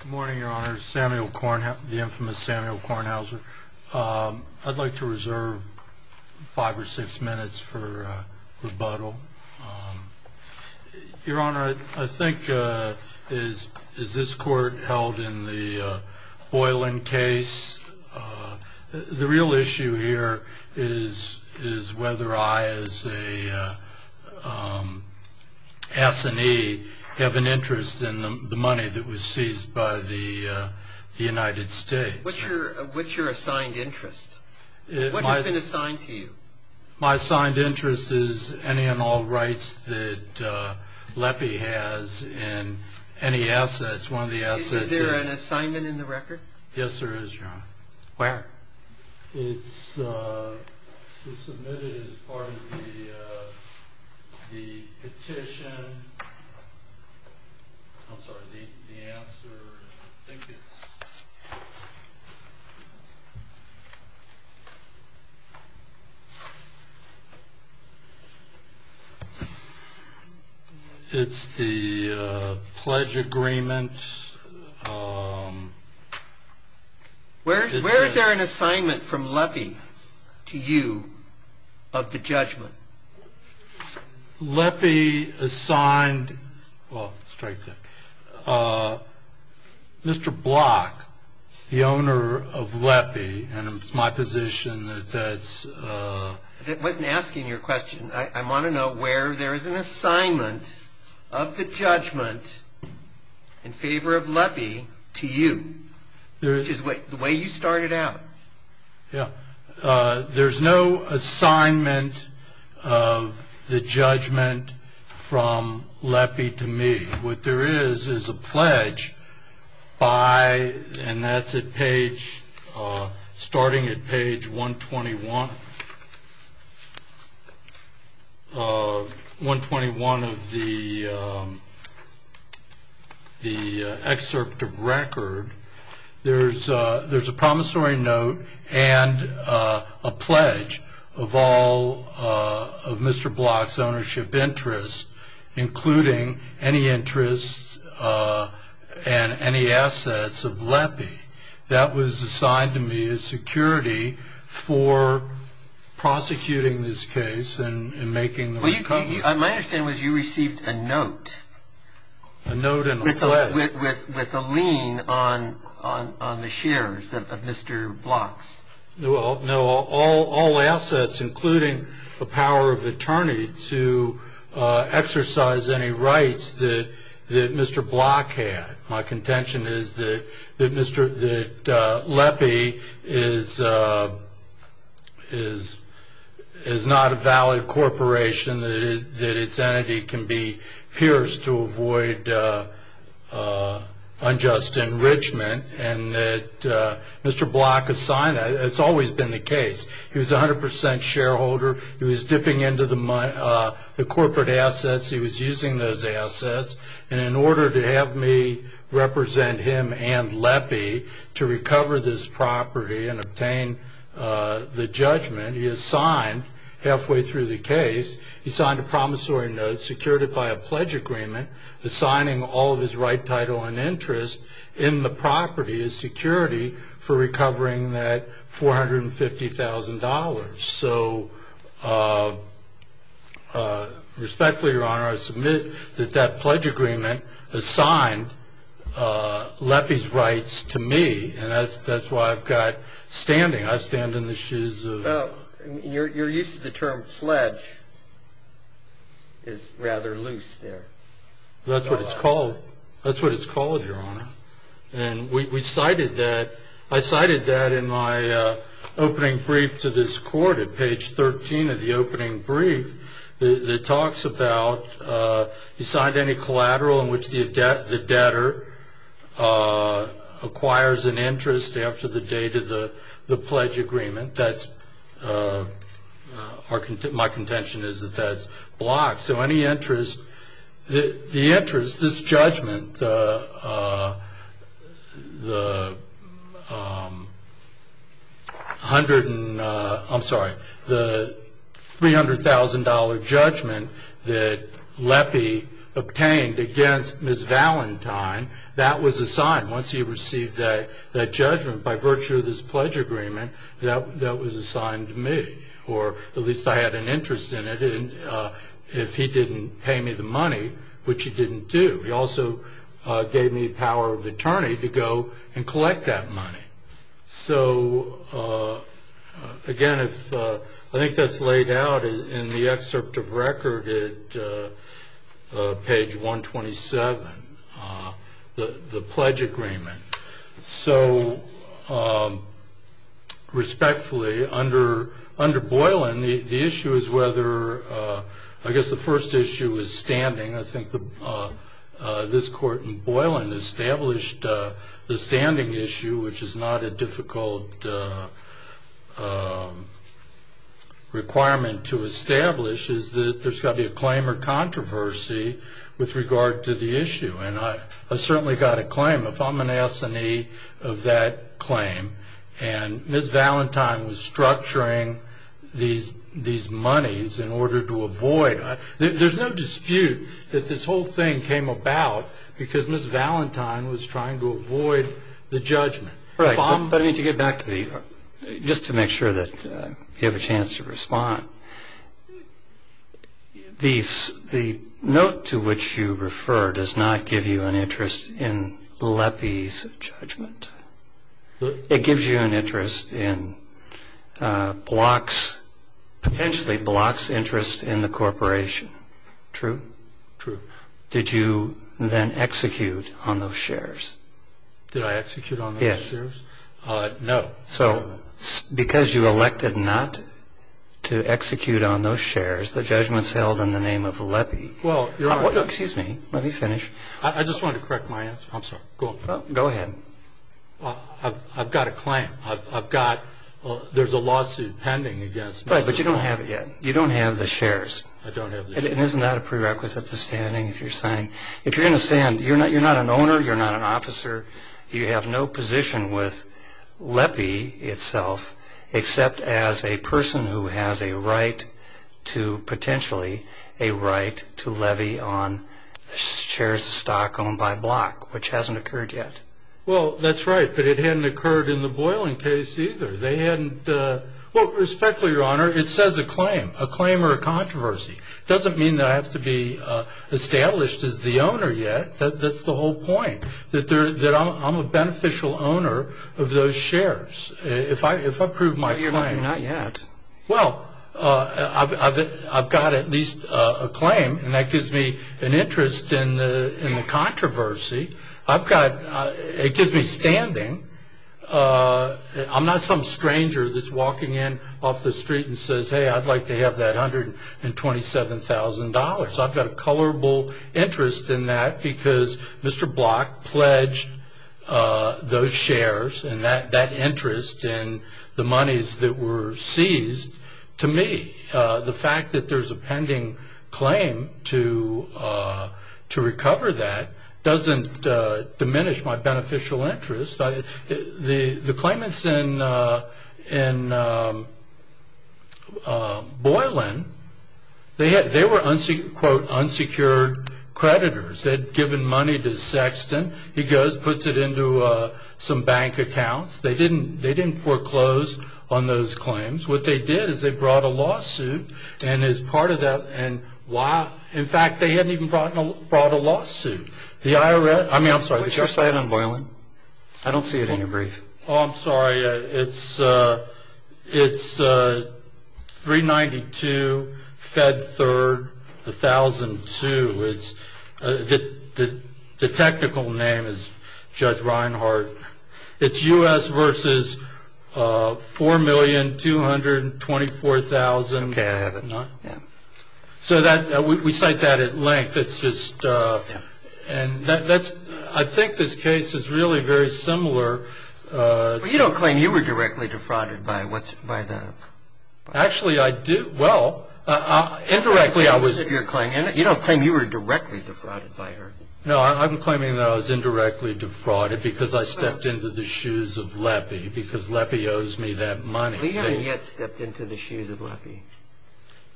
Good morning, Your Honor. Samuel Kornhauser, the infamous Samuel Kornhauser. I'd like to reserve five or six minutes for rebuttal. Your Honor, I think, is this court held in the Boylan case? The real issue here is whether I, as a S&E, have an interest in the money that was seized by the United States. What's your assigned interest? What has been assigned to you? My assigned interest is any and all rights that LEPI has and any assets. One of the assets is... Is there an assignment in the record? Yes, there is, Your Honor. Where? It's submitted as part of the petition. I'm sorry, the answer, I think it's... It's the pledge agreement. Where is there an assignment from LEPI to you of the judgment? LEPI assigned... Mr. Block, the owner of LEPI, and it's my position that that's... I wasn't asking your question. I want to know where there is an assignment of the judgment in favor of LEPI to you, which is the way you started out. Yeah. There's no assignment of the judgment from LEPI to me. What there is, is a pledge by... And that's at page... Starting at page 121 of the excerpt of record. There's a promissory note and a pledge of all of Mr. Block's ownership interests, including any interests and any assets of LEPI. That was assigned to me as security for prosecuting this case and making the recovery. My understanding was you received a note. A note and a pledge. With a lien on the shares of Mr. Block's. Well, no. All assets, including the power of attorney to exercise any rights that Mr. Block had. My contention is that LEPI is not a valid corporation, that its entity can be pierced to avoid unjust enrichment, and that Mr. Block assigned... It's always been the case. He was 100% shareholder. He was dipping into the corporate assets. He was using those assets. And in order to have me represent him and LEPI to recover this property and obtain the judgment, he assigned, halfway through the case, he signed a promissory note, secured it by a pledge agreement, assigning all of his right, title, and interest in the property as security for recovering that $450,000. So respectfully, Your Honor, I submit that that pledge agreement assigned LEPI's rights to me, and that's why I've got standing. I stand in the shoes of... Well, you're used to the term pledge. It's rather loose there. That's what it's called. That's what it's called, Your Honor. And we cited that. I cited that in my opening brief to this court at page 13 of the opening brief. It talks about he signed any collateral in which the debtor acquires an interest after the date of the pledge agreement. My contention is that that's blocked. The interest, this judgment, the $300,000 judgment that LEPI obtained against Ms. Valentine, that was assigned. Once he received that judgment by virtue of this pledge agreement, that was assigned to me. Or at least I had an interest in it if he didn't pay me the money, which he didn't do. He also gave me the power of attorney to go and collect that money. So again, I think that's laid out in the excerpt of record at page 127, the pledge agreement. So respectfully, under Boylan, the issue is whether... I guess the first issue is standing. I think this court in Boylan established the standing issue, which is not a difficult requirement to establish, is that there's got to be a claim or controversy with regard to the issue. And I certainly got a claim. If I'm an S&E of that claim and Ms. Valentine was structuring these monies in order to avoid... There's no dispute that this whole thing came about because Ms. Valentine was trying to avoid the judgment. Right. But I mean, to get back to the... The note to which you refer does not give you an interest in Lepie's judgment. It gives you an interest in Block's, potentially Block's interest in the corporation. True? True. Did you then execute on those shares? Did I execute on those shares? Yes. No. So because you elected not to execute on those shares, the judgment's held in the name of Lepie. Well, Your Honor... Excuse me. Let me finish. I just wanted to correct my answer. I'm sorry. Go on. Go ahead. I've got a claim. I've got... There's a lawsuit pending against Ms. Valentine. Right, but you don't have it yet. You don't have the shares. I don't have the shares. And isn't that a prerequisite to standing if you're signing? If you're going to stand, you're not an owner, you're not an officer. You have no position with Lepie itself, except as a person who has a right to, potentially, a right to levy on shares of stock owned by Block, which hasn't occurred yet. Well, that's right, but it hadn't occurred in the Boylan case either. They hadn't... Well, respectfully, Your Honor, it says a claim, a claim or a controversy. It doesn't mean that I have to be established as the owner yet. That's the whole point, that I'm a beneficial owner of those shares. If I prove my claim... But you're not yet. Well, I've got at least a claim, and that gives me an interest in the controversy. I've got... It gives me standing. I'm not some stranger that's walking in off the street and says, hey, I'd like to have that $127,000. I've got a colorable interest in that because Mr. Block pledged those shares and that interest in the monies that were seized to me. The fact that there's a pending claim to recover that doesn't diminish my beneficial interest. The claimants in Boylan, they were, quote, unsecured creditors. They had given money to Sexton. He goes, puts it into some bank accounts. They didn't foreclose on those claims. What they did is they brought a lawsuit, and as part of that... In fact, they hadn't even brought a lawsuit. I mean, I'm sorry. What's your site on Boylan? I don't see it in your brief. Oh, I'm sorry. It's 392 Fed Third 1002. The technical name is Judge Reinhart. It's U.S. versus $4,224,000. Okay, I have it. We cite that at length. I think this case is really very similar. You don't claim you were directly defrauded by the... Actually, I do. Well, indirectly I was... You don't claim you were directly defrauded by her. No, I'm claiming that I was indirectly defrauded because I stepped into the shoes of Lepie, because Lepie owes me that money. You haven't yet stepped into the shoes of Lepie.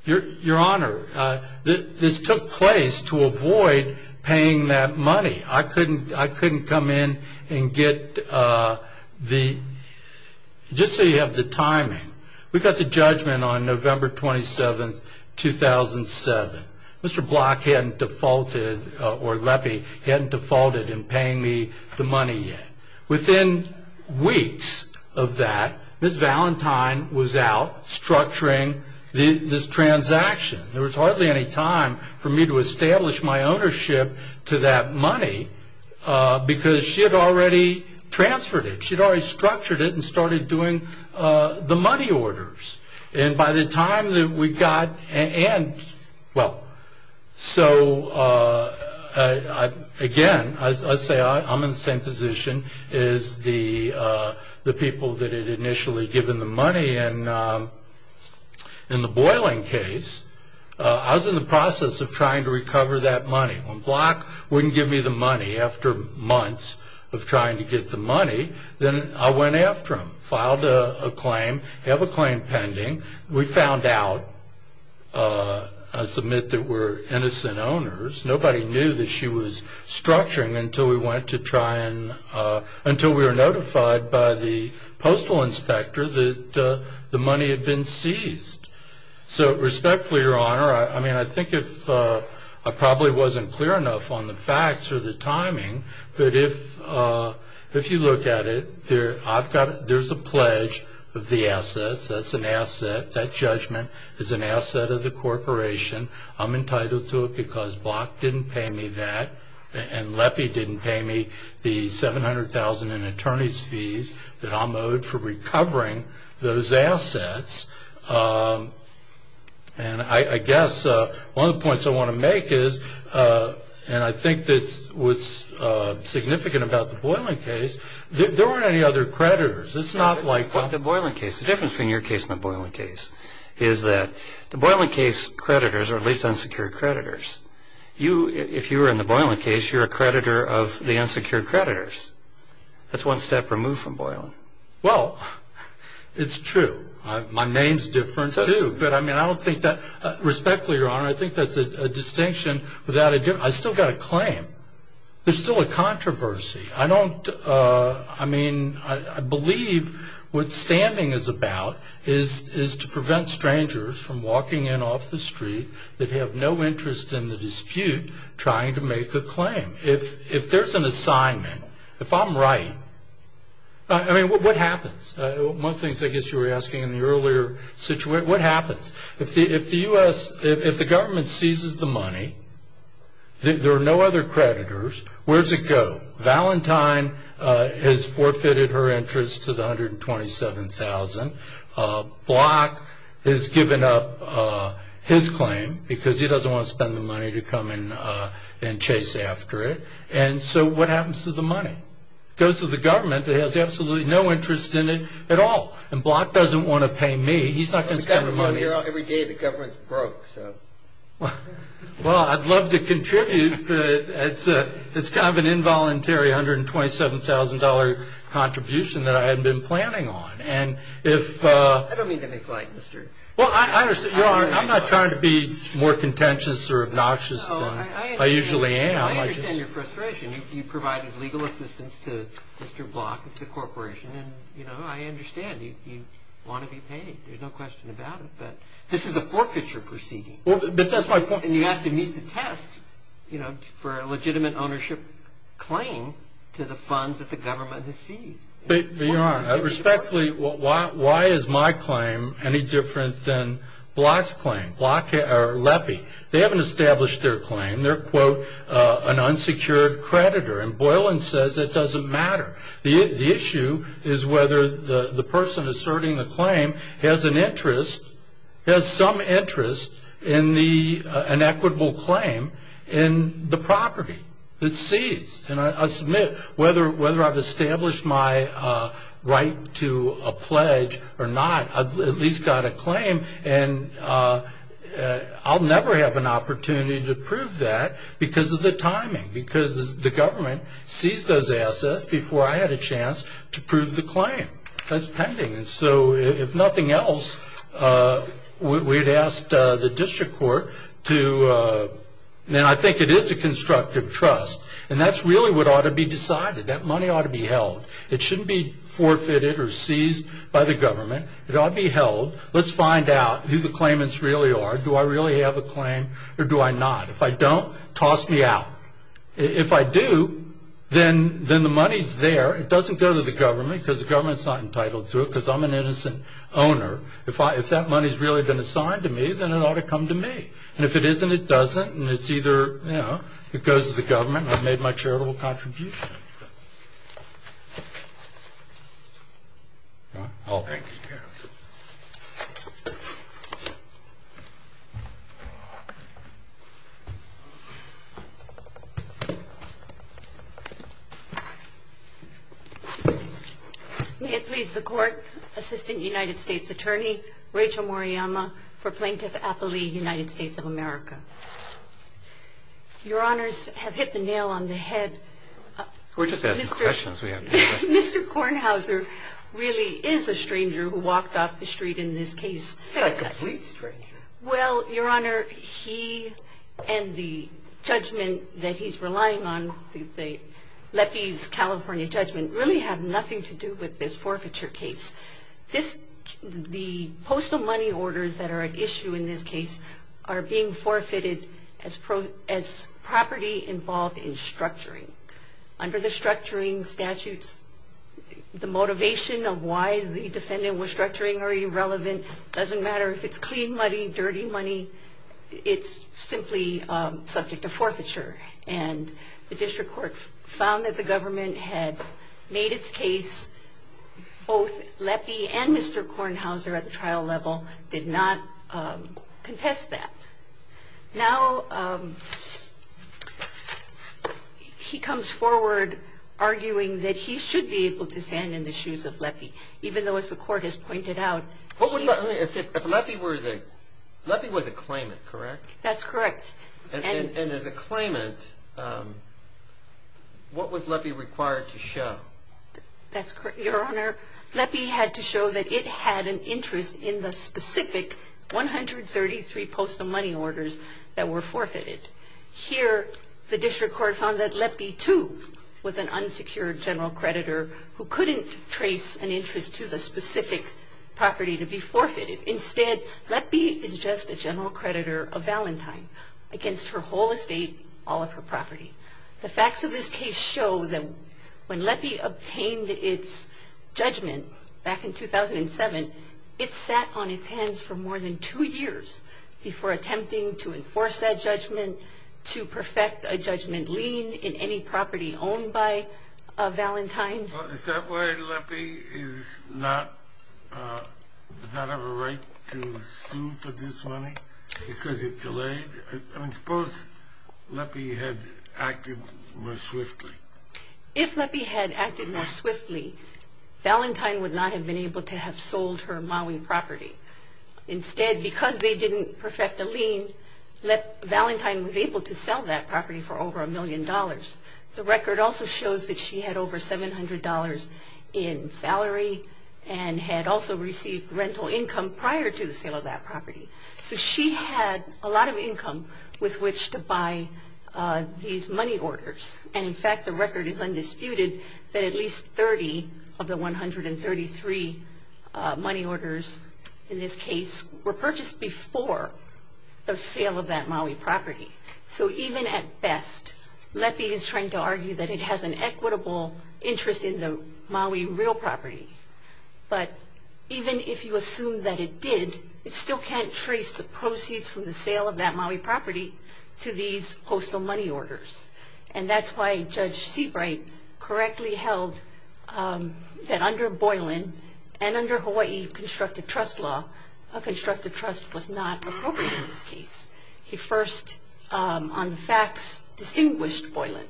Your Honor, this took place to avoid paying that money. I couldn't come in and get the... Just so you have the timing, we got the judgment on November 27, 2007. Mr. Block hadn't defaulted, or Lepie hadn't defaulted in paying me the money yet. Within weeks of that, Ms. Valentine was out structuring this transaction. There was hardly any time for me to establish my ownership to that money because she had already transferred it. She had already structured it and started doing the money orders. And by the time that we got... So, again, I say I'm in the same position as the people that had initially given the money in the Boylan case. I was in the process of trying to recover that money. When Block wouldn't give me the money after months of trying to get the money, then I went after him, filed a claim, have a claim pending. We found out, I submit, that we're innocent owners. Nobody knew that she was structuring until we went to try and... until we were notified by the postal inspector that the money had been seized. So, respectfully, Your Honor, I mean, I think I probably wasn't clear enough on the facts or the timing, but if you look at it, there's a pledge of the assets. That's an asset. That judgment is an asset of the corporation. I'm entitled to it because Block didn't pay me that, and Lepie didn't pay me the $700,000 in attorney's fees that I'm owed for recovering those assets. And I guess one of the points I want to make is, and I think that's what's significant about the Boylan case, there weren't any other creditors. It's not like... The Boylan case. The difference between your case and the Boylan case is that the Boylan case creditors are at least unsecured creditors. If you were in the Boylan case, you're a creditor of the unsecured creditors. That's one step removed from Boylan. Well, it's true. My name's different, too. But, I mean, I don't think that... Respectfully, Your Honor, I think that's a distinction without a difference. I still got a claim. There's still a controversy. I don't... I mean, I believe what standing is about is to prevent strangers from walking in off the street that have no interest in the dispute trying to make a claim. If there's an assignment, if I'm right... I mean, what happens? One of the things I guess you were asking in the earlier situation, what happens? If the U.S., if the government seizes the money, there are no other creditors, where does it go? Well, Valentine has forfeited her interest to the $127,000. Block has given up his claim because he doesn't want to spend the money to come and chase after it. And so what happens to the money? It goes to the government. It has absolutely no interest in it at all. And Block doesn't want to pay me. He's not going to spend the money. Every day the government's broke, so... Well, I'd love to contribute, but it's kind of an involuntary $127,000 contribution that I hadn't been planning on. And if... I don't mean to make light, Mr. Well, I understand. I'm not trying to be more contentious or obnoxious than I usually am. I understand your frustration. You provided legal assistance to Mr. Block at the corporation, and, you know, I understand. You want to be paid. There's no question about it. But this is a forfeiture proceeding. But that's my point. And you have to meet the test, you know, for a legitimate ownership claim to the funds that the government has seized. But, Your Honor, respectfully, why is my claim any different than Block's claim, Block or Lepie? They haven't established their claim. They're, quote, an unsecured creditor. And Boylan says it doesn't matter. The issue is whether the person asserting a claim has an interest, has some interest in an equitable claim in the property that's seized. And I submit, whether I've established my right to a pledge or not, I've at least got a claim. And I'll never have an opportunity to prove that because of the timing, because the government seized those assets before I had a chance to prove the claim. That's pending. And so if nothing else, we'd ask the district court to, and I think it is a constructive trust. And that's really what ought to be decided. That money ought to be held. It shouldn't be forfeited or seized by the government. It ought to be held. Let's find out who the claimants really are. Do I really have a claim or do I not? If I don't, toss me out. If I do, then the money's there. It doesn't go to the government because the government's not entitled to it because I'm an innocent owner. If that money's really been assigned to me, then it ought to come to me. And if it isn't, it doesn't. And it's either, you know, it goes to the government. I've made my charitable contribution. All right. Thank you. May it please the Court, Assistant United States Attorney Rachel Moriyama for Plaintiff Appley, United States of America. Your Honors have hit the nail on the head. We're just asking questions. We have no questions. Mr. Kornhauser really is a stranger who walked off the street in this case. A complete stranger. Well, Your Honor, he and the judgment that he's relying on, the LEPI's California judgment, really have nothing to do with this forfeiture case. The postal money orders that are at issue in this case are being forfeited as property involved in structuring. Under the structuring statutes, the motivation of why the defendant was structuring or irrelevant doesn't matter. If it's clean money, dirty money, it's simply subject to forfeiture. And the district court found that the government had made its case. Both LEPI and Mr. Kornhauser at the trial level did not contest that. Now, he comes forward arguing that he should be able to stand in the shoes of LEPI, even though, as the court has pointed out. Let me say, if LEPI were the, LEPI was a claimant, correct? That's correct. And as a claimant, what was LEPI required to show? That's correct. Your Honor, LEPI had to show that it had an interest in the specific 133 postal money orders that were forfeited. Here, the district court found that LEPI, too, was an unsecured general creditor who couldn't trace an interest to the specific property to be forfeited. Instead, LEPI is just a general creditor of Valentine against her whole estate, all of her property. The facts of this case show that when LEPI obtained its judgment back in 2007, it sat on its hands for more than two years before attempting to enforce that judgment, to perfect a judgment lien in any property owned by Valentine. Is that why LEPI does not have a right to sue for this money? Because it delayed? I mean, suppose LEPI had acted more swiftly. If LEPI had acted more swiftly, Valentine would not have been able to have sold her Maui property. Instead, because they didn't perfect the lien, Valentine was able to sell that property for over a million dollars. The record also shows that she had over $700 in salary and had also received rental income prior to the sale of that property. So she had a lot of income with which to buy these money orders. And, in fact, the record is undisputed that at least 30 of the 133 money orders in this case were purchased before the sale of that Maui property. So even at best, LEPI is trying to argue that it has an equitable interest in the Maui real property. But even if you assume that it did, it still can't trace the proceeds from the sale of that Maui property to these postal money orders. And that's why Judge Seabright correctly held that under Boylan and under Hawaii constructive trust law, a constructive trust was not appropriate in this case. He first, on the facts, distinguished Boylan.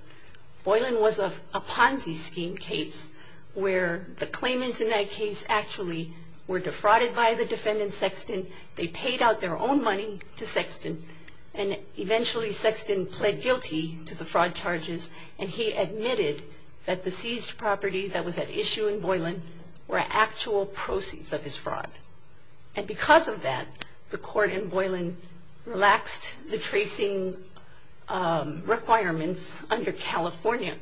Boylan was a Ponzi scheme case where the claimants in that case actually were defrauded by the defendant Sexton. They paid out their own money to Sexton. And eventually Sexton pled guilty to the fraud charges. And he admitted that the seized property that was at issue in Boylan were actual proceeds of his fraud. And because of that, the court in Boylan relaxed the tracing requirements under California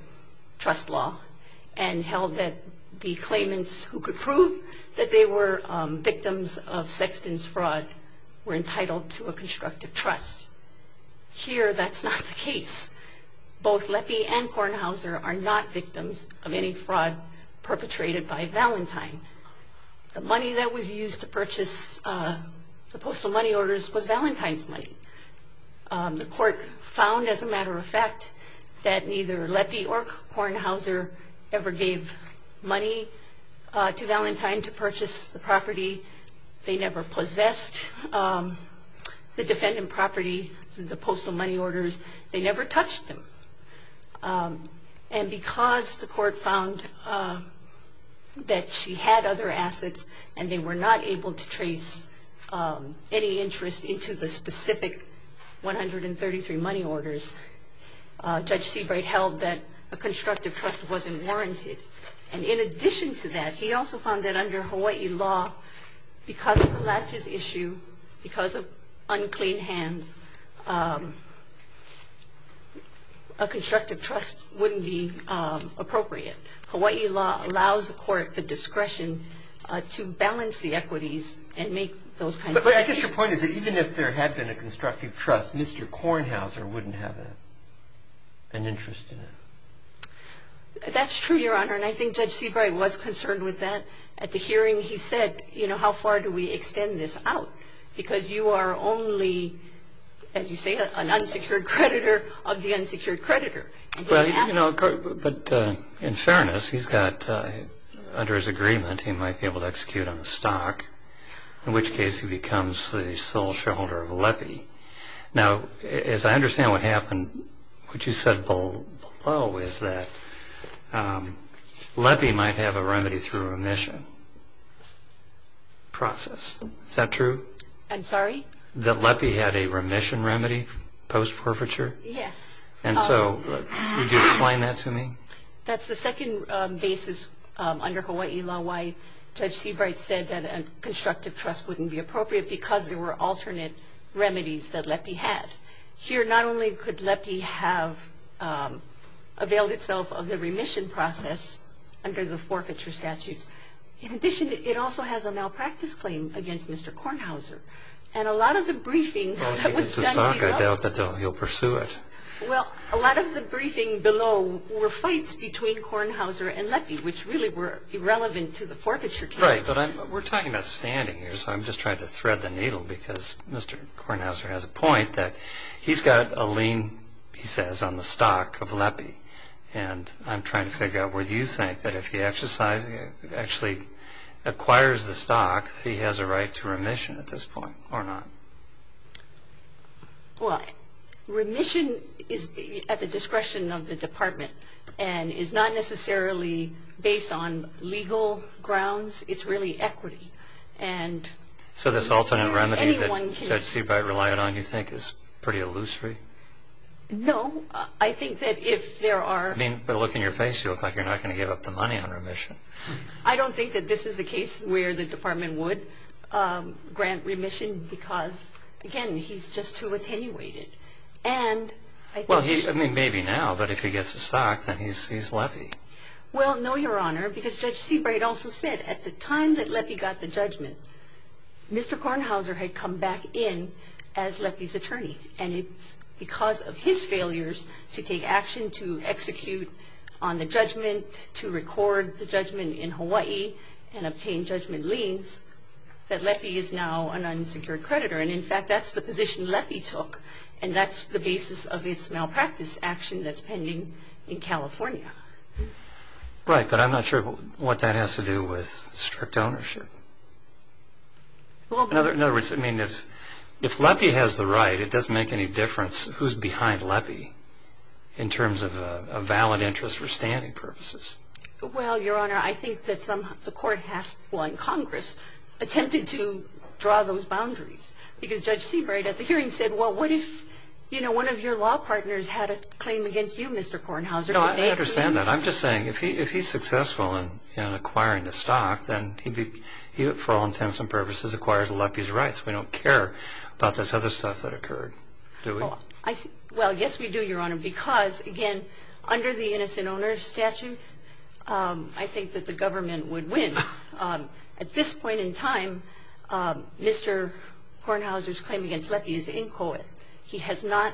trust law and held that the claimants who could prove that they were victims of Sexton's fraud were entitled to a constructive trust. Here, that's not the case. Both LEPI and Kornhauser are not victims of any fraud perpetrated by Valentine. The money that was used to purchase the postal money orders was Valentine's money. The court found, as a matter of fact, that neither LEPI or Kornhauser ever gave money to Valentine to purchase the property. They never possessed the defendant property since the postal money orders. They never touched them. And because the court found that she had other assets and they were not able to trace any interest into the specific 133 money orders, Judge Seabright held that a constructive trust wasn't warranted. And in addition to that, he also found that under Hawaii law, because of the latches issue, because of unclean hands, a constructive trust wouldn't be appropriate. Hawaii law allows the court the discretion to balance the equities and make those kinds of decisions. But I guess your point is that even if there had been a constructive trust, Mr. Kornhauser wouldn't have an interest in it. That's true, Your Honor, and I think Judge Seabright was concerned with that. At the hearing, he said, you know, how far do we extend this out? Because you are only, as you say, an unsecured creditor of the unsecured creditor. But in fairness, he's got, under his agreement, he might be able to execute on the stock, in which case he becomes the sole shareholder of LEPI. Now, as I understand what happened, what you said below is that LEPI might have a remedy through remission process. Is that true? I'm sorry? That LEPI had a remission remedy post-forfeiture? Yes. And so would you explain that to me? That's the second basis under Hawaii law why Judge Seabright said that a constructive trust wouldn't be appropriate because there were alternate remedies that LEPI had. Here, not only could LEPI have availed itself of the remission process under the forfeiture statutes, in addition, it also has a malpractice claim against Mr. Kornhauser. And a lot of the briefing that was done below – Well, if he gets the stock, I doubt that he'll pursue it. Well, a lot of the briefing below were fights between Kornhauser and LEPI, which really were irrelevant to the forfeiture case. Right, but we're talking about standing here, so I'm just trying to thread the needle because Mr. Kornhauser has a point that he's got a lien, he says, on the stock of LEPI. And I'm trying to figure out whether you think that if he actually acquires the stock, he has a right to remission at this point or not. Well, remission is at the discretion of the department and is not necessarily based on legal grounds. It's really equity. So this alternate remedy that Judge Seabright relied on, you think, is pretty illusory? No, I think that if there are – I mean, by the look on your face, you look like you're not going to give up the money on remission. I don't think that this is a case where the department would grant remission because, again, he's just too attenuated. Well, I mean, maybe now, but if he gets the stock, then he's LEPI. Well, no, Your Honor, because Judge Seabright also said at the time that LEPI got the judgment, Mr. Kornhauser had come back in as LEPI's attorney. And it's because of his failures to take action, to execute on the judgment, to record the judgment in Hawaii and obtain judgment liens, that LEPI is now an unsecured creditor. And, in fact, that's the position LEPI took, and that's the basis of its malpractice action that's pending in California. Right, but I'm not sure what that has to do with strict ownership. In other words, I mean, if LEPI has the right, it doesn't make any difference who's behind LEPI in terms of a valid interest for standing purposes. Well, Your Honor, I think that somehow the court has, well, in Congress, attempted to draw those boundaries, because Judge Seabright at the hearing said, well, what if, you know, one of your law partners had a claim against you, Mr. Kornhauser? No, I understand that. I'm just saying, if he's successful in acquiring the stock, then he'd be, for all intents and purposes, acquired LEPI's rights. Well, yes, we do, Your Honor, because, again, under the innocent owner statute, I think that the government would win. At this point in time, Mr. Kornhauser's claim against LEPI is inchoate. He has not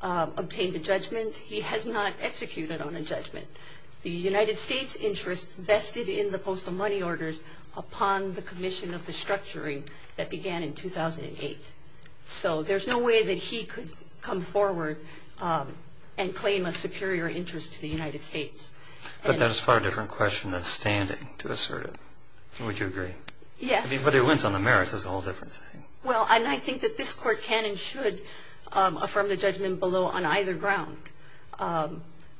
obtained a judgment. He has not executed on a judgment. The United States' interest vested in the postal money orders upon the commission of the structuring that began in 2008. So there's no way that he could come forward and claim a superior interest to the United States. But that's a far different question than standing, to assert it. Would you agree? Yes. But it wins on the merits. It's a whole different thing. Well, and I think that this Court can and should affirm the judgment below on either ground,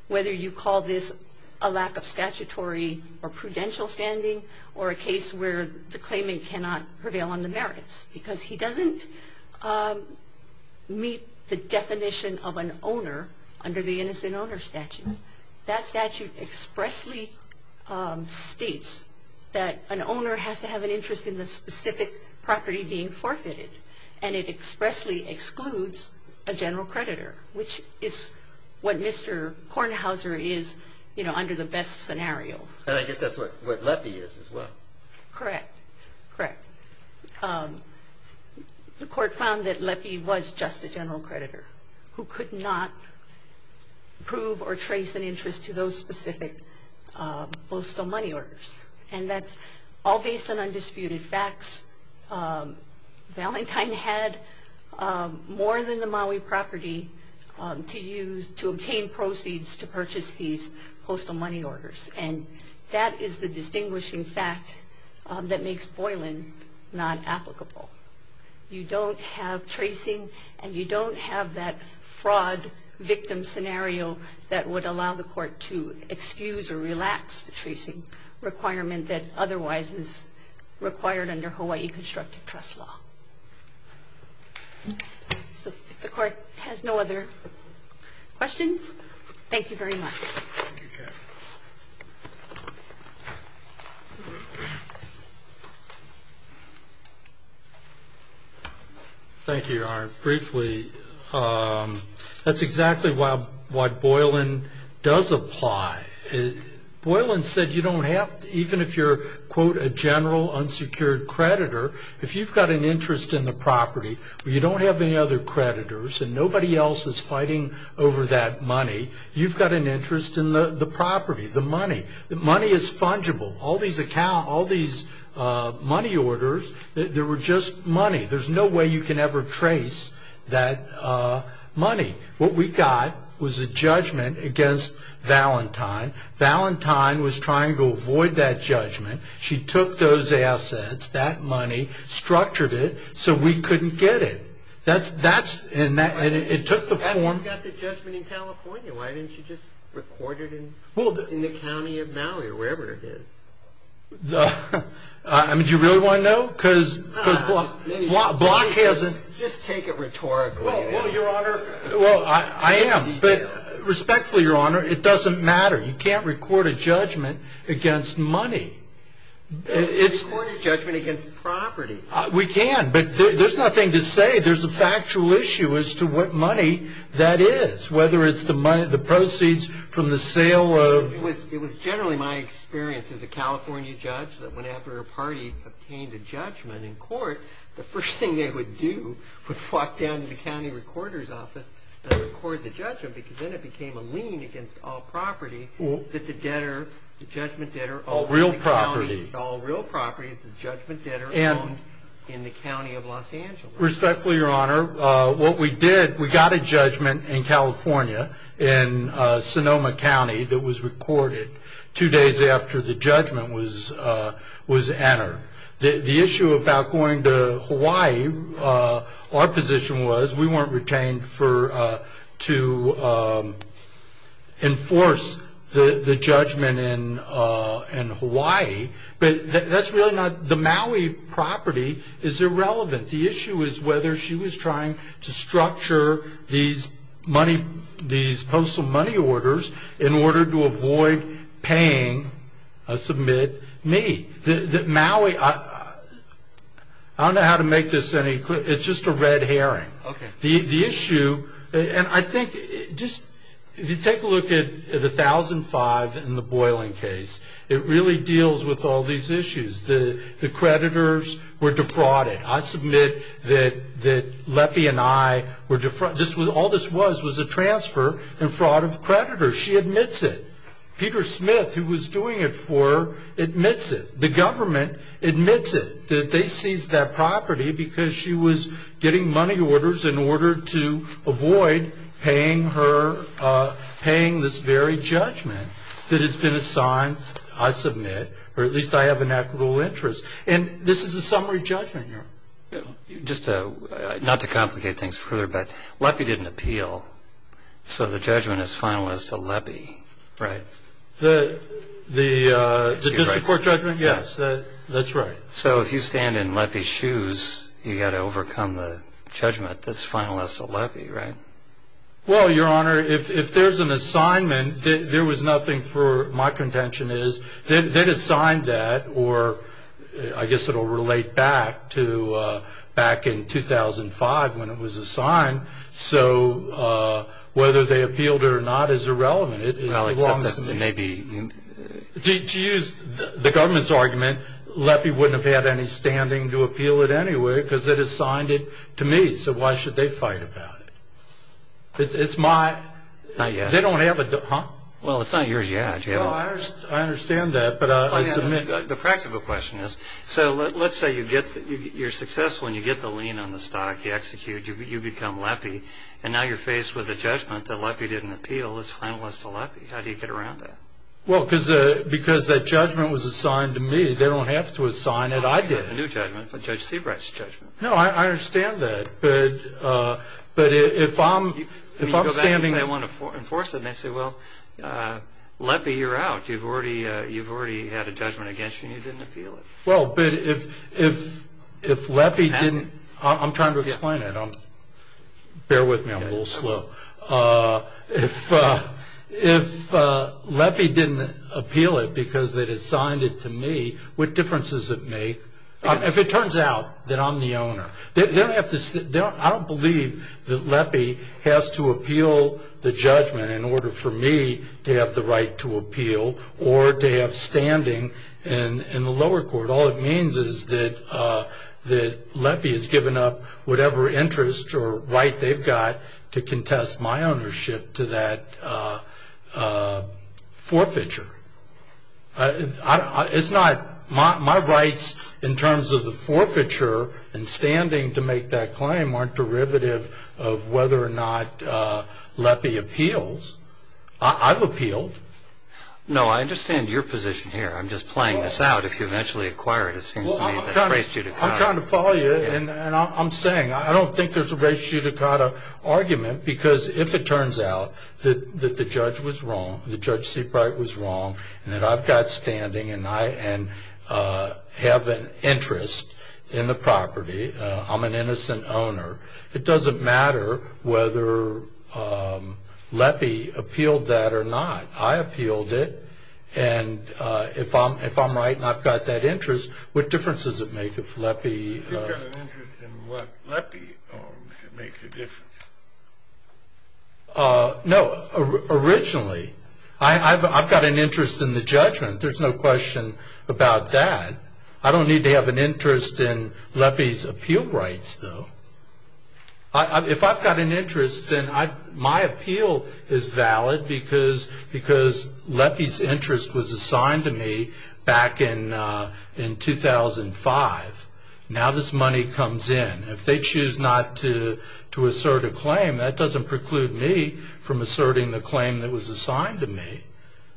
whether you call this a lack of statutory or prudential standing or a case where the claimant cannot prevail on the merits, because he doesn't meet the definition of an owner under the innocent owner statute. That statute expressly states that an owner has to have an interest in the specific property being forfeited, and it expressly excludes a general creditor, which is what Mr. Kornhauser is, you know, under the best scenario. And I guess that's what LEPI is as well. Correct. Correct. The Court found that LEPI was just a general creditor who could not prove or trace an interest to those specific postal money orders, and that's all based on undisputed facts. Valentine had more than the Maui property to obtain proceeds to purchase these postal money orders, and that is the distinguishing fact that makes Boylan not applicable. You don't have tracing, and you don't have that fraud victim scenario that would allow the Court to excuse or relax the tracing requirement that otherwise is required under Hawaii constructive trust law. So if the Court has no other questions, thank you very much. Thank you, Kevin. Thank you, Arne. Briefly, that's exactly what Boylan does apply. Boylan said you don't have to, even if you're, quote, a general unsecured creditor, if you've got an interest in the property but you don't have any other creditors and nobody else is fighting over that money, you've got an interest in the property, the money. The money is fungible. All these money orders, they were just money. There's no way you can ever trace that money. What we got was a judgment against Valentine. Valentine was trying to avoid that judgment. She took those assets, that money, structured it so we couldn't get it. And it took the form. And you got the judgment in California. Why didn't you just record it in the county of Maui or wherever it is? Do you really want to know? Just take it rhetorically. Well, Your Honor, I am, but respectfully, Your Honor, it doesn't matter. You can't record a judgment against money. You can't record a judgment against property. We can, but there's nothing to say. There's a factual issue as to what money that is, whether it's the proceeds from the sale of... It was generally my experience as a California judge that whenever a party obtained a judgment in court, the first thing they would do was walk down to the county recorder's office and record the judgment because then it became a lien against all property that the debtor, the judgment debtor... All real property. All real property that the judgment debtor owned in the county of Los Angeles. Respectfully, Your Honor, what we did, we got a judgment in California, in Sonoma County, that was recorded two days after the judgment was entered. The issue about going to Hawaii, our position was, we weren't retained to enforce the judgment in Hawaii, but that's really not... The Maui property is irrelevant. The issue is whether she was trying to structure these postal money orders in order to avoid paying a submitted me. The Maui... I don't know how to make this any clearer. It's just a red herring. The issue, and I think, if you take a look at the 1005 in the Boylan case, it really deals with all these issues. The creditors were defrauded. I submit that Lepi and I were defrauded. All this was was a transfer and fraud of creditors. She admits it. Peter Smith, who was doing it for her, admits it. The government admits it, that they seized that property because she was getting money orders in order to avoid paying this very judgment that has been assigned, I submit, or at least I have an equitable interest. And this is a summary judgment here. Just not to complicate things further, but Lepi didn't appeal, so the judgment is finalized to Lepi. Right. The district court judgment? Yes. That's right. So if you stand in Lepi's shoes, you've got to overcome the judgment that's finalized to Lepi, right? Well, Your Honor, if there's an assignment that there was nothing for my contention is, then assign that or I guess it will relate back to back in 2005 when it was assigned. So whether they appealed or not is irrelevant. Well, except that maybe. To use the government's argument, Lepi wouldn't have had any standing to appeal it anyway because it assigned it to me, so why should they fight about it? It's my. It's not yours. They don't have a. Well, it's not yours yet. Well, I understand that, but I submit. The practical question is, so let's say you're successful and you get the lien on the stock, you execute, you become Lepi, and now you're faced with a judgment that Lepi didn't appeal. It's finalized to Lepi. How do you get around that? Well, because that judgment was assigned to me. They don't have to assign it. I did. A new judgment, Judge Seabright's judgment. No, I understand that, but if I'm standing. You go back and say I want to enforce it, and they say, well, Lepi, you're out. You've already had a judgment against you, and you didn't appeal it. Well, but if Lepi didn't. I'm trying to explain it. Bear with me. I'm a little slow. If Lepi didn't appeal it because they assigned it to me, what difference does it make? If it turns out that I'm the owner. I don't believe that Lepi has to appeal the judgment in order for me to have the right to appeal or to have standing in the lower court. All it means is that Lepi has given up whatever interest or right they've got to contest my ownership to that forfeiture. It's not my rights in terms of the forfeiture and standing to make that claim aren't derivative of whether or not Lepi appeals. I've appealed. No, I understand your position here. I'm just playing this out. If you eventually acquire it, it seems to me that's race judicata. I'm trying to follow you, and I'm saying I don't think there's a race judicata argument because if it turns out that the judge was wrong, the Judge Seabright was wrong, and that I've got standing and I have an interest in the property, I'm an innocent owner, it doesn't matter whether Lepi appealed that or not. I appealed it, and if I'm right and I've got that interest, what difference does it make if Lepi... If you've got an interest in what Lepi owns, it makes a difference. No, originally. I've got an interest in the judgment. There's no question about that. I don't need to have an interest in Lepi's appeal rights, though. If I've got an interest, then my appeal is valid because Lepi's interest was assigned to me back in 2005. Now this money comes in. If they choose not to assert a claim, that doesn't preclude me from asserting the claim that was assigned to me.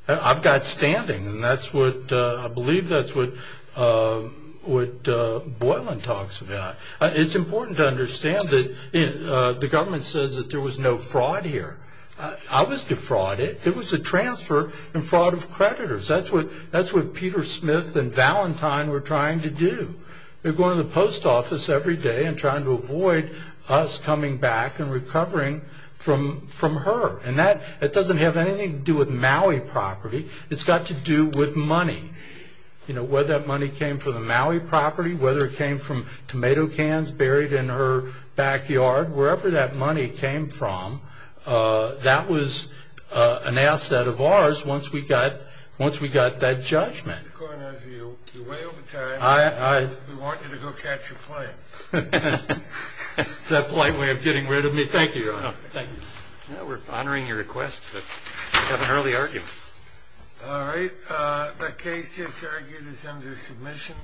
I've got standing, and I believe that's what Boylan talks about. It's important to understand that the government says that there was no fraud here. I was defrauded. It was a transfer and fraud of creditors. That's what Peter Smith and Valentine were trying to do. They were going to the post office every day and trying to avoid us coming back and recovering from her, and that doesn't have anything to do with Maui property. It's got to do with money, whether that money came from the Maui property, whether it came from tomato cans buried in her backyard. Wherever that money came from, that was an asset of ours once we got that judgment. According to you, you're way over time, and we want you to go catch a plane. That polite way of getting rid of me. Thank you, Your Honor. Thank you. We're honoring your request to have an early argument. All right. The case just argued is under submission.